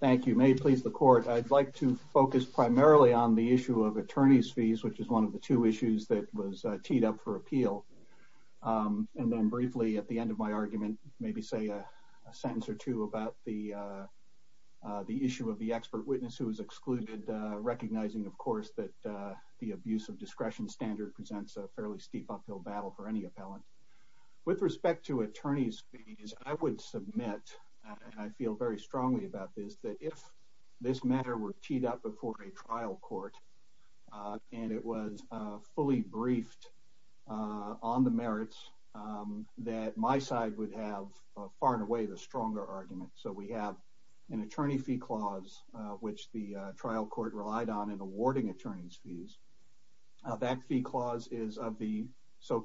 Thank you. May it please the court, I'd like to focus primarily on the issue of attorney's fees, which is one of the two issues that was teed up for appeal. And then briefly, at the end of my argument, maybe say a sentence or two about the issue of the expert witness who was excluded, recognizing, of course, that the abuse of discretion standard presents a fairly steep uphill battle for any appellant. With respect to attorney's fees, I would submit, and I feel very that if this matter were teed up before a trial court, and it was fully briefed on the merits, that my side would have far and away the stronger argument. So we have an attorney fee clause, which the trial court relied on in awarding attorney's fees. That fee clause is of the the,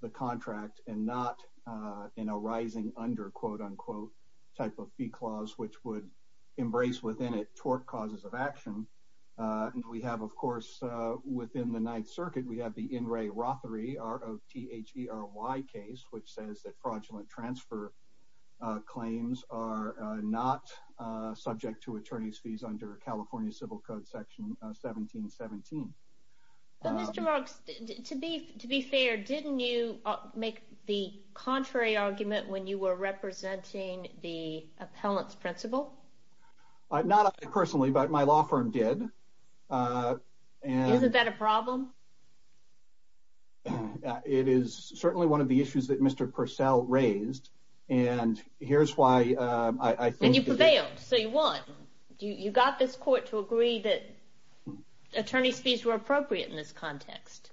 the contract and not in a rising under quote unquote, type of fee clause, which would embrace within it tort causes of action. And we have, of course, within the Ninth Circuit, we have the in Ray Rothery, R O T H E R Y case, which says that fraudulent transfer claims are not subject to attorney's fees under California Civil Code Section 1717. Mr. Marks, to be to be fair, didn't you make the contrary argument when you were representing the appellant's principle? Not personally, but my law firm did. And isn't that a problem? It is certainly one of the issues that Mr. Purcell raised. And here's why I think you failed. So you won. You got this court to agree that attorney's fees were appropriate in this context.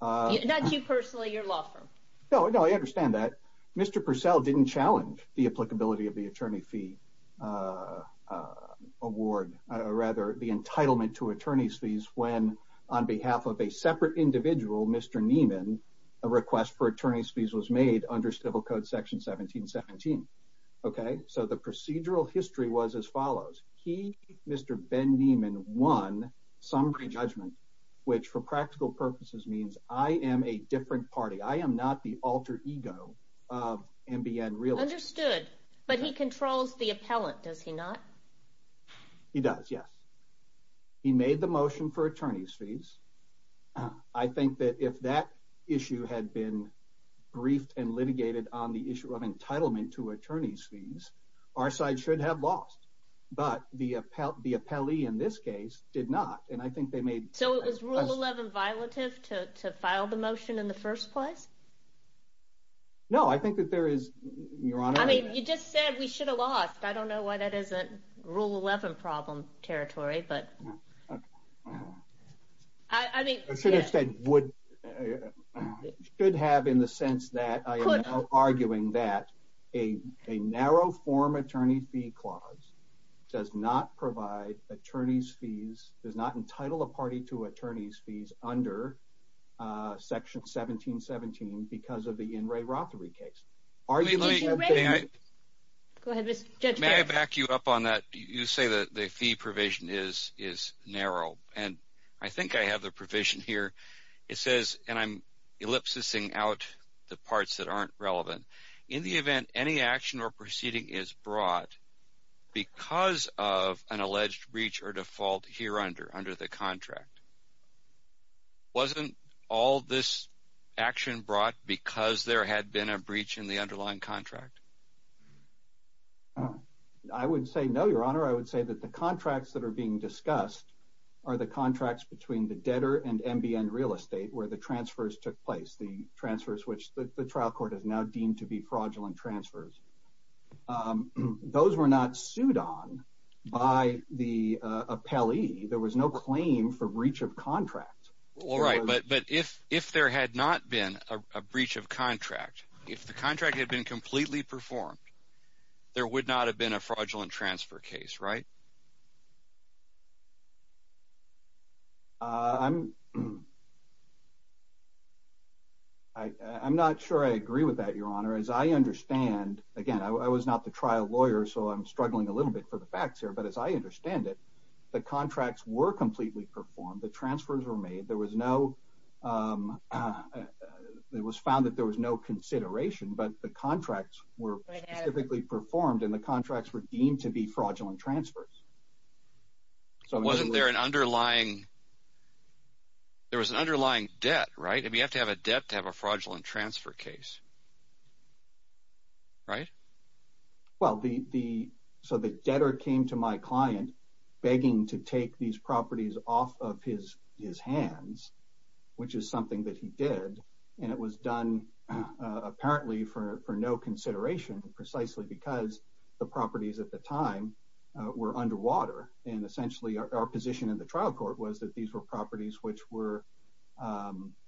Not you personally, your law firm. No, no, I understand that. Mr. Purcell didn't challenge the applicability of the attorney fee award, rather the entitlement to attorney's fees when on behalf of a separate individual, Mr. Neiman, a request for attorney's fees was made under Civil Code Section 1717. Okay. So the procedural history was as follows. He, Mr. Ben Neiman, won summary judgment, which for practical purposes means I am a different party. I am not the alter ego of NBN Real Estate. Understood. But he controls the appellant, does he not? He does, yes. He made the motion for attorney's fees. I think that if that issue had been briefed and litigated on the issue of entitlement to attorney's fees, our side should have lost. But the appellee in this case did not. And I think they made- So it was Rule 11 violative to file the motion in the first place? No, I think that there is, Your Honor- I mean, you just said we should have lost. I don't know why that isn't Rule 11 problem territory, but- I mean- You should have said would- should have in the sense that I am now arguing that a narrow form attorney fee clause does not provide attorney's fees, does not entitle a party to attorney's fees under Section 1717 because of the In re Rothery case. Are you- Let me- Go ahead, Mr. Judge. May I back you up on that? You say that the fee provision is narrow. And I think I have provision here. It says, and I'm ellipsis-ing out the parts that aren't relevant. In the event any action or proceeding is brought because of an alleged breach or default here under the contract, wasn't all this action brought because there had been a breach in the underlying contract? I would say no, Your Honor. I would say that the contracts that are being discussed are the contracts between the debtor and NBN Real Estate where the transfers took place, the transfers which the trial court has now deemed to be fraudulent transfers. Those were not sued on by the appellee. There was no claim for breach of contract. All right, but if there had not been a breach of contract, if the contract had been completely performed, there would not have been a fraudulent transfer case, right? I'm not sure I agree with that, Your Honor. As I understand, again, I was not the trial lawyer, so I'm struggling a little bit for the facts here. But as I understand it, the contracts were completely performed. The transfers were made. There was no- I had- Specifically performed, and the contracts were deemed to be fraudulent transfers. So wasn't there an underlying- there was an underlying debt, right? I mean, you have to have a debt to have a fraudulent transfer case, right? Well, the- so the debtor came to my client begging to take these properties off of his hands, which is something that he did. And it was done apparently for no consideration, precisely because the properties at the time were underwater. And essentially, our position in the trial court was that these were properties which were,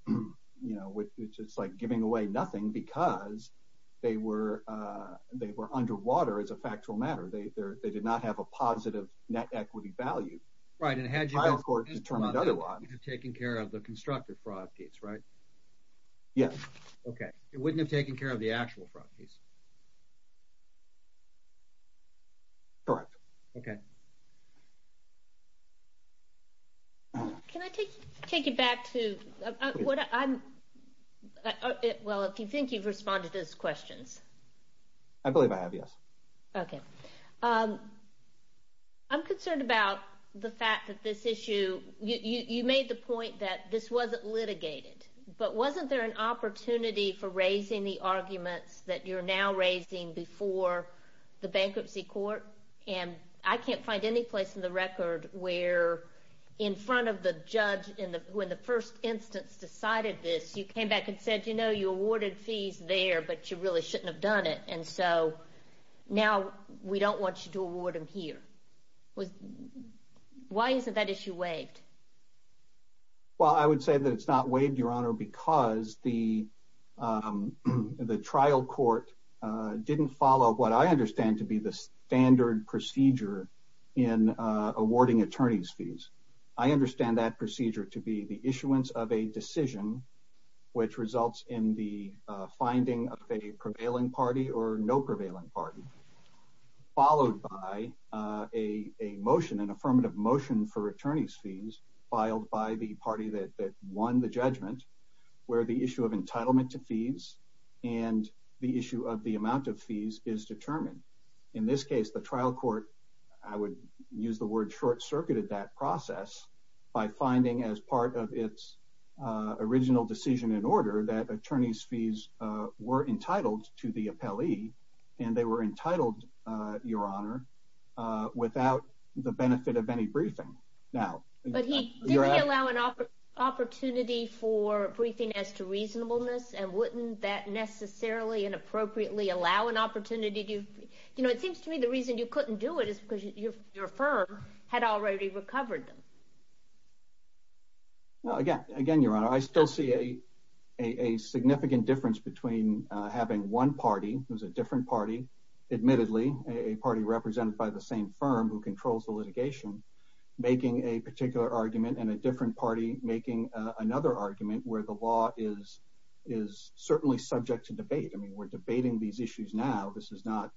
you know, which is like giving away nothing because they were underwater as a factual matter. They did not have a positive net equity value. Right, and had you- The constructive fraud case, right? Yes. Okay. It wouldn't have taken care of the actual fraud case? Correct. Okay. Can I take you back to what I'm- well, if you think you've responded to those questions. I believe I have, yes. Okay. I'm concerned about the fact that this issue- you made the point that this wasn't litigated. But wasn't there an opportunity for raising the arguments that you're now raising before the bankruptcy court? And I can't find any place in the record where in front of the judge in the- when the first instance decided this, you came back and said, you know, now we don't want you to award him here. Why isn't that issue waived? Well, I would say that it's not waived, Your Honor, because the trial court didn't follow what I understand to be the standard procedure in awarding attorney's fees. I understand that procedure to be the issuance of a decision which results in the finding of a prevailing party or no prevailing party, followed by a motion, an affirmative motion for attorney's fees filed by the party that won the judgment, where the issue of entitlement to fees and the issue of the amount of fees is determined. In this case, the trial court, I would use the word, short-circuited that process by finding as part of its original decision in order that attorney's fees were and they were entitled, Your Honor, without the benefit of any briefing. Now, but he didn't allow an opportunity for briefing as to reasonableness and wouldn't that necessarily inappropriately allow an opportunity to, you know, it seems to me the reason you couldn't do it is because your firm had already recovered them. Well, again, Your Honor, I still see a significant difference between having one party, who's a different party, admittedly, a party represented by the same firm who controls the litigation, making a particular argument and a different party making another argument where the law is certainly subject to debate. I mean, we're debating these issues now. This is not,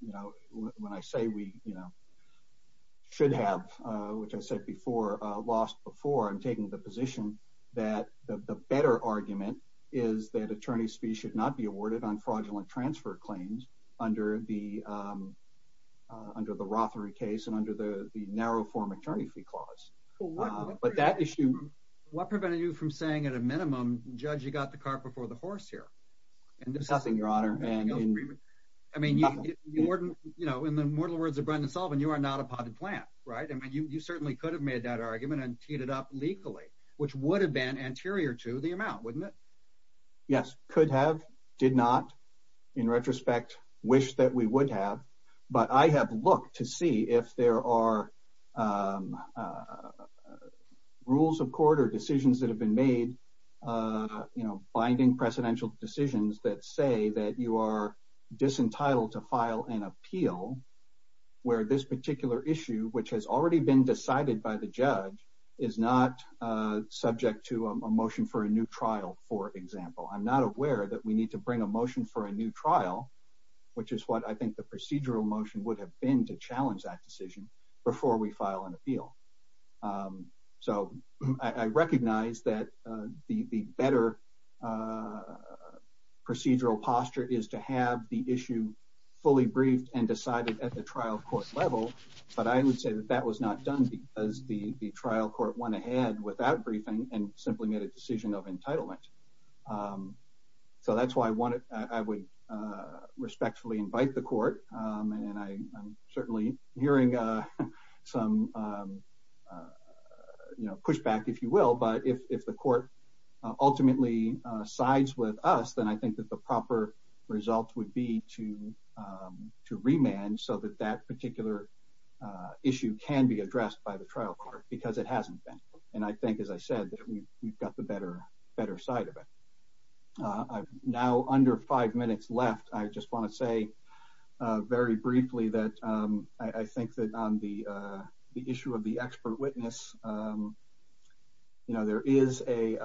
you know, when I say we, you know, should have, which I said before, lost before I'm taking the under the under the Rothery case and under the narrow form attorney fee clause. But that issue, what prevented you from saying at a minimum, judge, you got the car before the horse here. And there's nothing, Your Honor. I mean, you know, in the mortal words of Brendan Sullivan, you are not a potted plant, right? I mean, you certainly could have made that argument and teed it up legally, which would have been anterior to the amount, wouldn't it? Yes, could have did not, in retrospect, wish that we would have. But I have looked to see if there are rules of court or decisions that have been made, you know, binding precedential decisions that say that you are disentitled to file an appeal, where this particular issue, which has already been decided by the judge, is not subject to a motion for a new trial. For example, I'm not aware that we need to bring a motion for a new trial, which is what I think the procedural motion would have been to challenge that decision before we file an appeal. So I recognize that the better procedural posture is to have the issue fully briefed and decided at the trial court level. But I would say that that was not done because the trial court went ahead without briefing and simply made a decision of entitlement. So that's why I would respectfully invite the court. And I'm certainly hearing some, you know, pushback, if you will. But if the court ultimately sides with us, then I think that the proper result would be to remand so that that particular issue can be addressed by the trial court, because it hasn't been. And I think, as I said, that we've got the better side of it. I've now under five minutes left. I just want to say very briefly that I think that on the issue of the expert witness, you know, there is a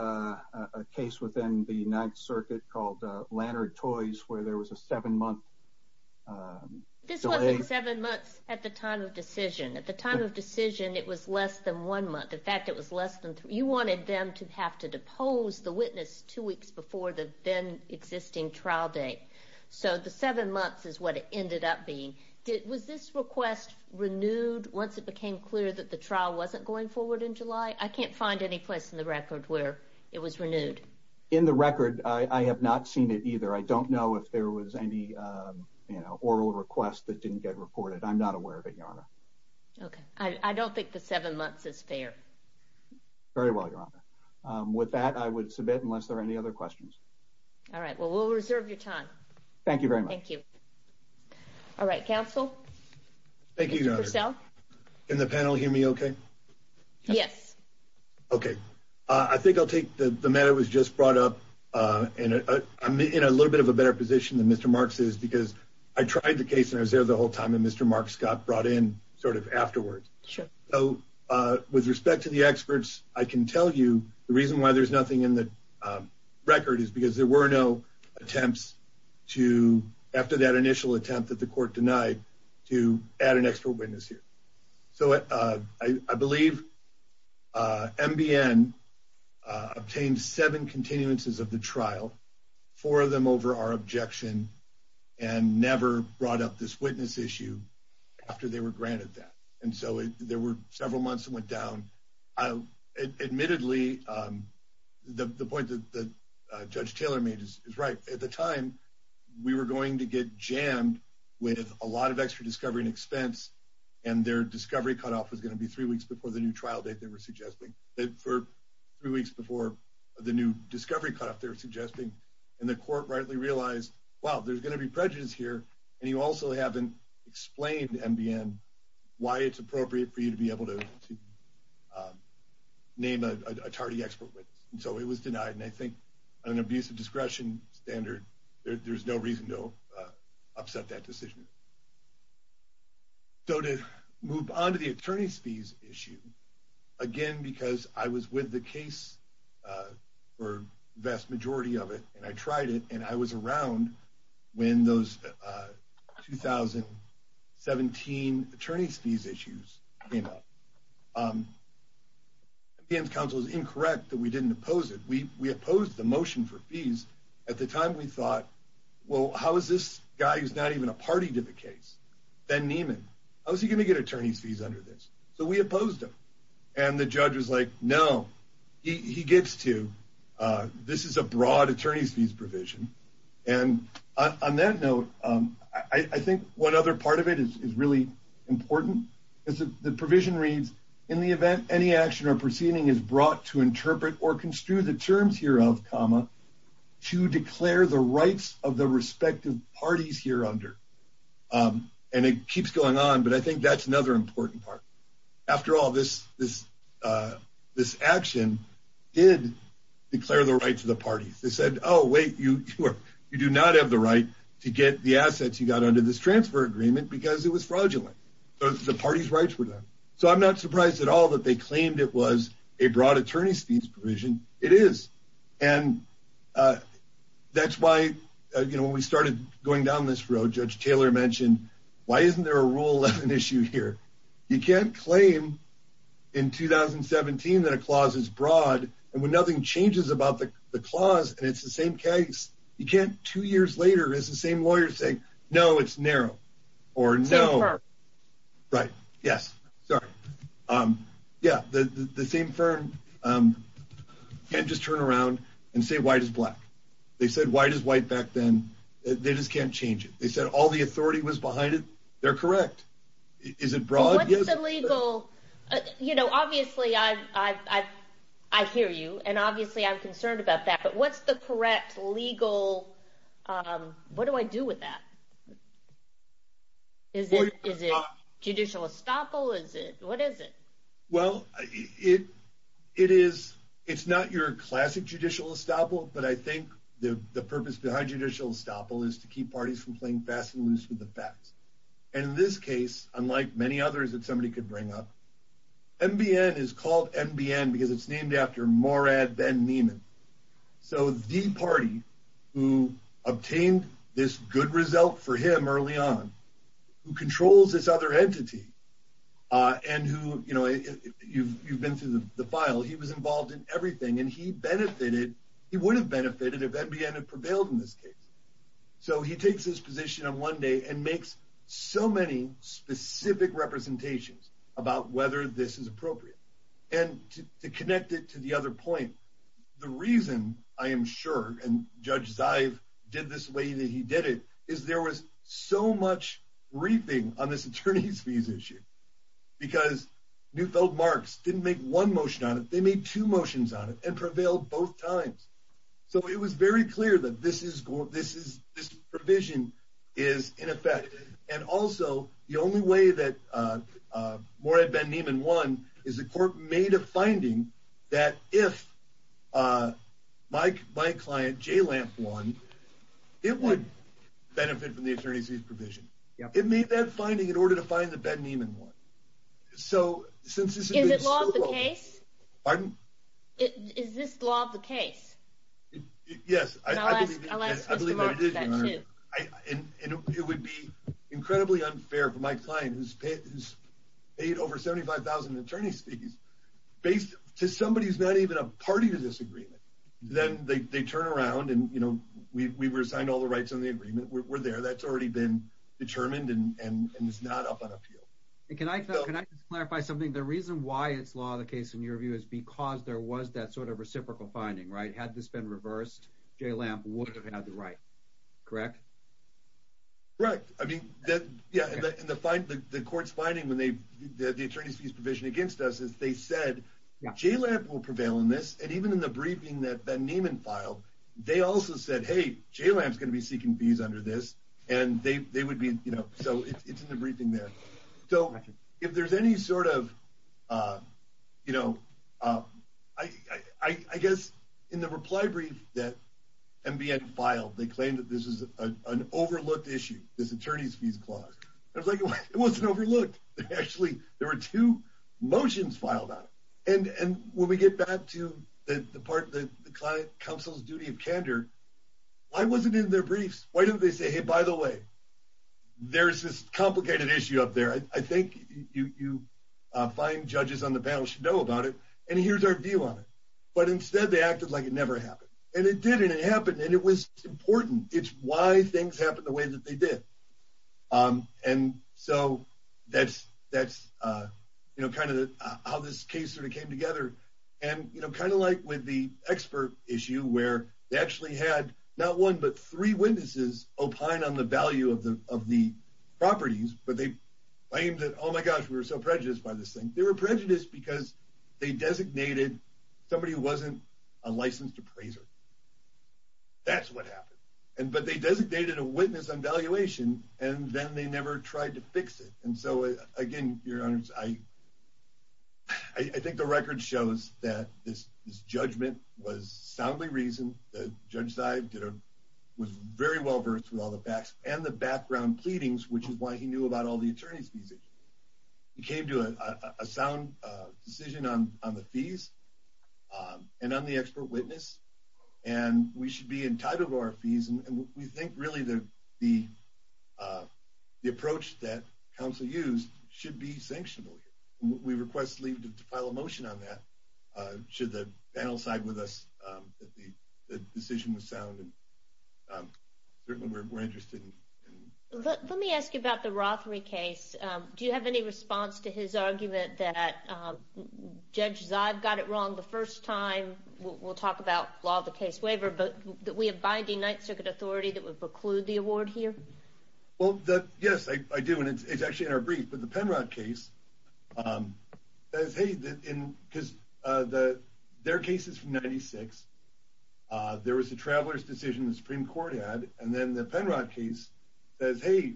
ninth circuit called Lannard Toys, where there was a seven-month delay. This wasn't seven months at the time of decision. At the time of decision, it was less than one month. In fact, it was less than three. You wanted them to have to depose the witness two weeks before the then-existing trial date. So the seven months is what it ended up being. Was this request renewed once it became clear that the trial wasn't going forward in July? I can't find any place in the record where it was renewed. In the record, I have not seen it either. I don't know if there was any oral request that didn't get reported. I'm not aware of it, Your Honor. Okay. I don't think the seven months is fair. Very well, Your Honor. With that, I would submit, unless there are any other questions. All right. Well, we'll reserve your time. Thank you very much. Thank you. All right. Counsel? Thank you, Your Honor. Mr. Purcell? Can the panel hear me okay? Yes. Okay. I think I'll take the matter that was just brought up. I'm in a little bit of a better position than Mr. Marks is because I tried the case and I was there the whole time and Mr. Marks got brought in sort of afterwards. So with respect to the experts, I can tell you the reason why there's nothing in the record is because there were no attempts to, after that initial attempt that the court denied, to add an extra witness here. So I believe MBN obtained seven continuances of the trial, four of them over our objection, and never brought up this witness issue after they were granted that. And so there were several months that went down. Admittedly, the point that Judge Taylor made is right. At the time, we were going to get jammed with a lot of extra discovery and expense, and their discovery cutoff was going to be three weeks before the new trial date they were suggesting, for three weeks before the new discovery cutoff they were suggesting. And the court rightly realized, wow, there's going to be prejudice here, and you also haven't explained to MBN why it's appropriate for you to be able to name a tardy expert witness. And so it was denied. And I think on an abuse of discretion standard, there's no reason to upset that decision. So to move on to the attorney's fees issue, again, because I was with the case for the vast majority of it, and I tried it, and I was around when those 2017 attorney's fees issues came up. MBN's counsel was incorrect that we didn't oppose it. We opposed the motion for fees. At the time, we thought, well, how is this guy who's not even a party to the case, Ben Neiman, how's he going to get attorney's fees under this? So we opposed him. And the judge was like, no, he gets to. This is a broad attorney's fees provision. And on that note, I think one other part of it is really important. The provision reads, in the event any action or proceeding is brought to interpret or construe the terms hereof, comma, to declare the rights of the party. And it keeps going on, but I think that's another important part. After all, this action did declare the rights of the party. They said, oh, wait, you do not have the right to get the assets you got under this transfer agreement because it was fraudulent. The party's rights were done. So I'm not surprised at all that they claimed it was a broad attorney's fees provision. It is. And that's why, you know, when we started going down this road, Judge Taylor mentioned, why isn't there a Rule 11 issue here? You can't claim in 2017 that a clause is broad and when nothing changes about the clause and it's the same case, you can't two years later, it's the same lawyer saying, no, it's narrow or no. Right. Yes. Sorry. Yeah. The same firm can't just turn around and say white is black. They said white is white back then. They just can't change it. They said all the authority was behind it. They're correct. Is it broad? Yes. It's illegal. You know, obviously I hear you and obviously I'm concerned about that, but what's the correct legal, what do I do with that? Is it judicial estoppel? What is it? Well, it is, it's not your classic judicial estoppel, but I think the purpose behind judicial estoppel is to keep parties from playing fast and loose with the facts. And in this case, unlike many others that somebody could bring up, NBN is called NBN because it's named after Morad then Neiman. So the party who obtained this good result for him early on who controls this other entity and who, you know, you've, you've been through the file. He was involved in everything and he benefited. He would have benefited if NBN had prevailed in this case. So he takes his position on one day and makes so many specific representations about whether this is appropriate and to connect it to the other point. The reason I am sure, and Judge Zive did this way that he did it, is there was so much briefing on this attorney's fees issue because Neufeld Marx didn't make one motion on it. They made two motions on it and prevailed both times. So it was very clear that this is, this is, this provision is in effect. And also the only way that Morad Ben Neiman won is the court made a finding that if my, my client Jay Lamp won, it would benefit from the attorney's fees provision. It made that finding in order to find the Ben Neiman one. So since this is... Is it law of the case? Pardon? Is this law of the case? Yes. And it would be incredibly unfair for my client who's paid, who's paid over 75,000 attorney's fees based to somebody who's not even a party to this agreement. Then they, they turn around and, you know, we, we resigned all the rights on the agreement. We're there. That's already been determined and, and it's not up on appeal. And can I, can I just clarify something? The reason why it's law of the case in your view is because there was that sort of reciprocal finding, right? Had this been reversed, Jay Lamp would have had the right, correct? Right. I mean that, yeah. And the, the court's finding when they, the attorney's fees provision against us is they said, Jay Lamp will prevail in this. And even in the briefing that Ben Neiman filed, they also said, Hey, Jay Lamp's going to be seeking fees under this. And they, they would be, you know, so it's, it's in the briefing there. So if there's any sort of you know I, I, I guess in the reply brief that NBN filed, they claimed that this is an overlooked issue. This attorney's fees clause. I was like, it wasn't overlooked. Actually there were two motions filed on it. And, and when we get back to the part of the client counsel's duty of candor, why was it in their briefs? Why don't they say, Hey, by the way, there's this complicated issue up there. I think you, you find judges on the panel should know about it and here's our view But instead they acted like it never happened and it did. And it happened and it was important. It's why things happen the way that they did. And so that's, that's you know, kind of how this case sort of came together and, you know, kind of like with the expert issue where they actually had not one, but three witnesses opine on the value of the, of the properties, but they claimed that, Oh my gosh, we were so prejudiced by this thing. They were prejudiced because they designated somebody who wasn't a licensed appraiser. That's what happened. And, but they designated a witness on valuation and then they never tried to fix it. And so again, your honors, I, I think the record shows that this, this judgment was soundly reasoned. The judge side did a, was very well versed with all the facts and the background pleadings, which is why he knew about the attorneys. He came to a sound decision on, on the fees and on the expert witness, and we should be entitled to our fees. And we think really the, the, the approach that counsel used should be sanctioned. We request leave to file a motion on that. Should the panel side with us that the decision was sound and certainly we're interested in. Let me ask you about the Rothery case. Do you have any response to his argument that judges I've got it wrong the first time we'll talk about law of the case waiver, but that we have binding ninth circuit authority that would preclude the award here? Well, yes, I do. And it's, it's actually in our brief, but the Penrod case says, Hey, that in, cause the, their cases from 96, there was a traveler's decision, the Supreme court had, and then the Penrod case says, Hey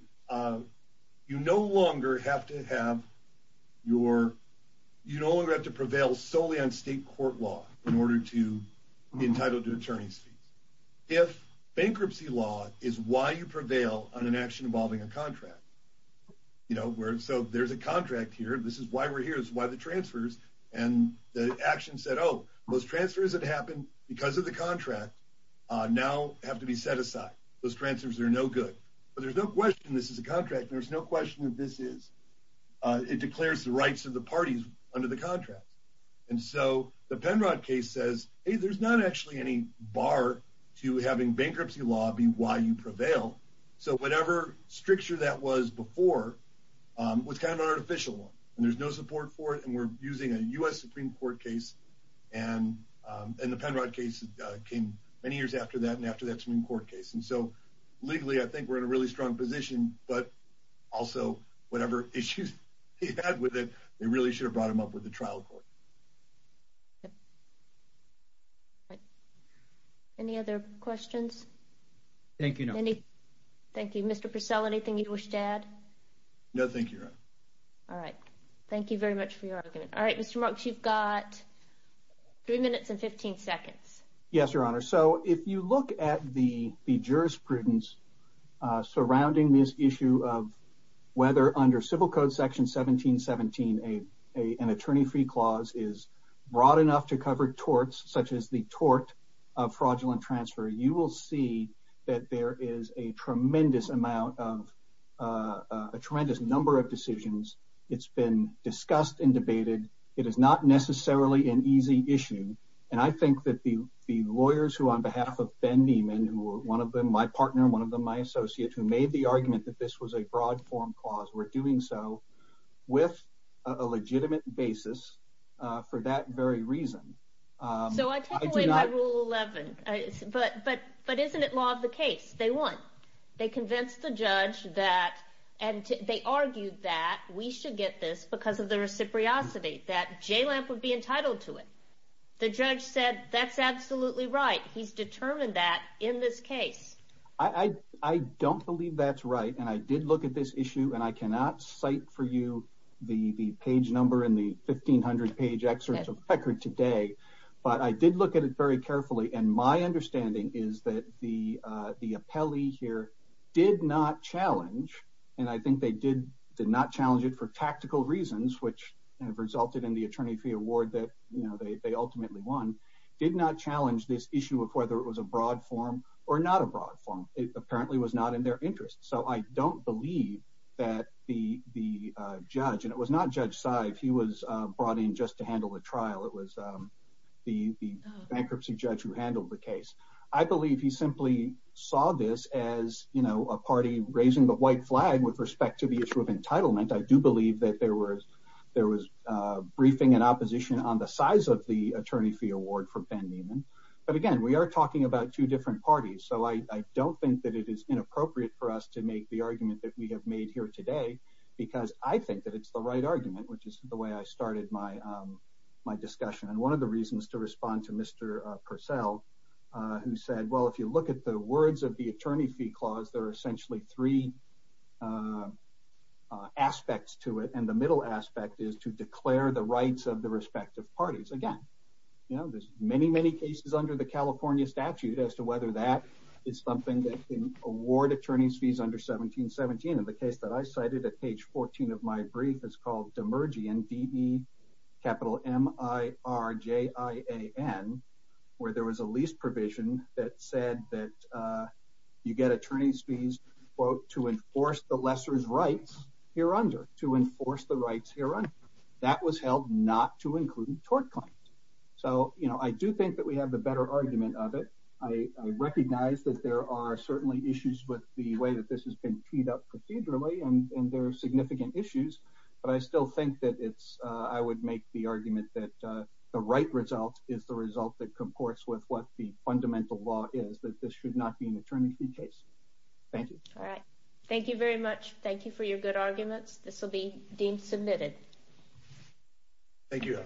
you no longer have to have your, you don't have to prevail solely on state court law in order to be entitled to attorney's fees. If bankruptcy law is why you prevail on an action involving a contract, you know, where, so there's a contract here. This is why we're here is why the transfers and the action said, most transfers that happened because of the contract now have to be set aside. Those transfers are no good, but there's no question. This is a contract. There's no question that this is it declares the rights of the parties under the contract. And so the Penrod case says, Hey, there's not actually any bar to having bankruptcy law be why you prevail. So whatever stricture that was before was kind of an artificial one and there's no support for it. And we're using a us Supreme court case. And, and the Penrod case came many years after that. And after that Supreme court case. And so legally, I think we're in a really strong position, but also whatever issues he had with it, they really should have brought him up with the trial court. Right. Any other questions? Thank you. Thank you, Mr. Purcell. Anything you'd wish to add? No, thank you. All right. Thank you very much for your argument. All right, Mr. Marks, you've got three minutes and 15 seconds. Yes, your honor. So if you look at the jurisprudence surrounding this issue of whether under civil code section 1717, a, a, an attorney free clause is broad enough to cover torts, such as the tort of fraudulent transfer. You will see that there is a tremendous amount of a tremendous number of decisions. It's been discussed and debated. It is not necessarily an easy issue. And I think that the, the lawyers who on behalf of Ben Neiman, who were one of them, my partner, one of them, my associates who made the argument that this was a broad form clause, we're doing so with a legitimate basis for that very reason. So I take away my rule 11, but, but, but isn't it law of the case? They won. They convinced the judge that, and they argued that we should get this because of the reciprocity that J Lamp would be entitled to it. The judge said, that's absolutely right. He's determined that in this case. I, I, I don't believe that's right. And I did look at this issue and I cannot cite for you the, the page number in the 1500 page excerpts of record today, but I did look at it very carefully. And my understanding is that the the appellee here did not challenge. And I think they did, did not challenge it for tactical reasons, which have resulted in the attorney fee award that, you know, they, they ultimately won, did not challenge this issue of whether it was a broad form or not a broad form. It apparently was not in their interest. So I don't believe that the, the judge, and it was not judge size. He was brought in just to handle the trial. It was the bankruptcy judge who handled the case. I believe he simply saw this as, you know, a party raising the white flag with respect to the issue of entitlement. I do believe that there were, there was a briefing and opposition on the size of the attorney fee award for Ben Neiman. But again, we are talking about two different parties. So I don't think that it is inappropriate for us to make the argument that we have made here today, because I think that it's the right argument, which is the way I started my, my discussion. And one of the reasons to respond to Mr. Purcell, who said, well, if you look at the words of the attorney fee clause, there are essentially three aspects to it. And the middle aspect is to declare the rights of the respective parties. Again, you know, there's many, many cases under the California statute as to whether that is something that can award attorney's fees under 1717. And the case that I cited at page 14 of my brief is called Demirjian, D-E capital M-I-R-J-I-A-N, where there was a lease provision that said that you get attorney's fees, quote, to enforce the lessor's rights here under, to enforce the rights here under. That was held not to include tort claims. So, you know, I do think that we have the better argument of it. I recognize that there are certainly issues with the way that this has been teed up procedurally and there are significant issues, but I still think that it's, I would make the argument that the right result is the result that comports with what the fundamental law is, that this should not be an attorney fee case. Thank you. All right. Thank you very much. Thank you for your good arguments. This will be deemed submitted. Thank you.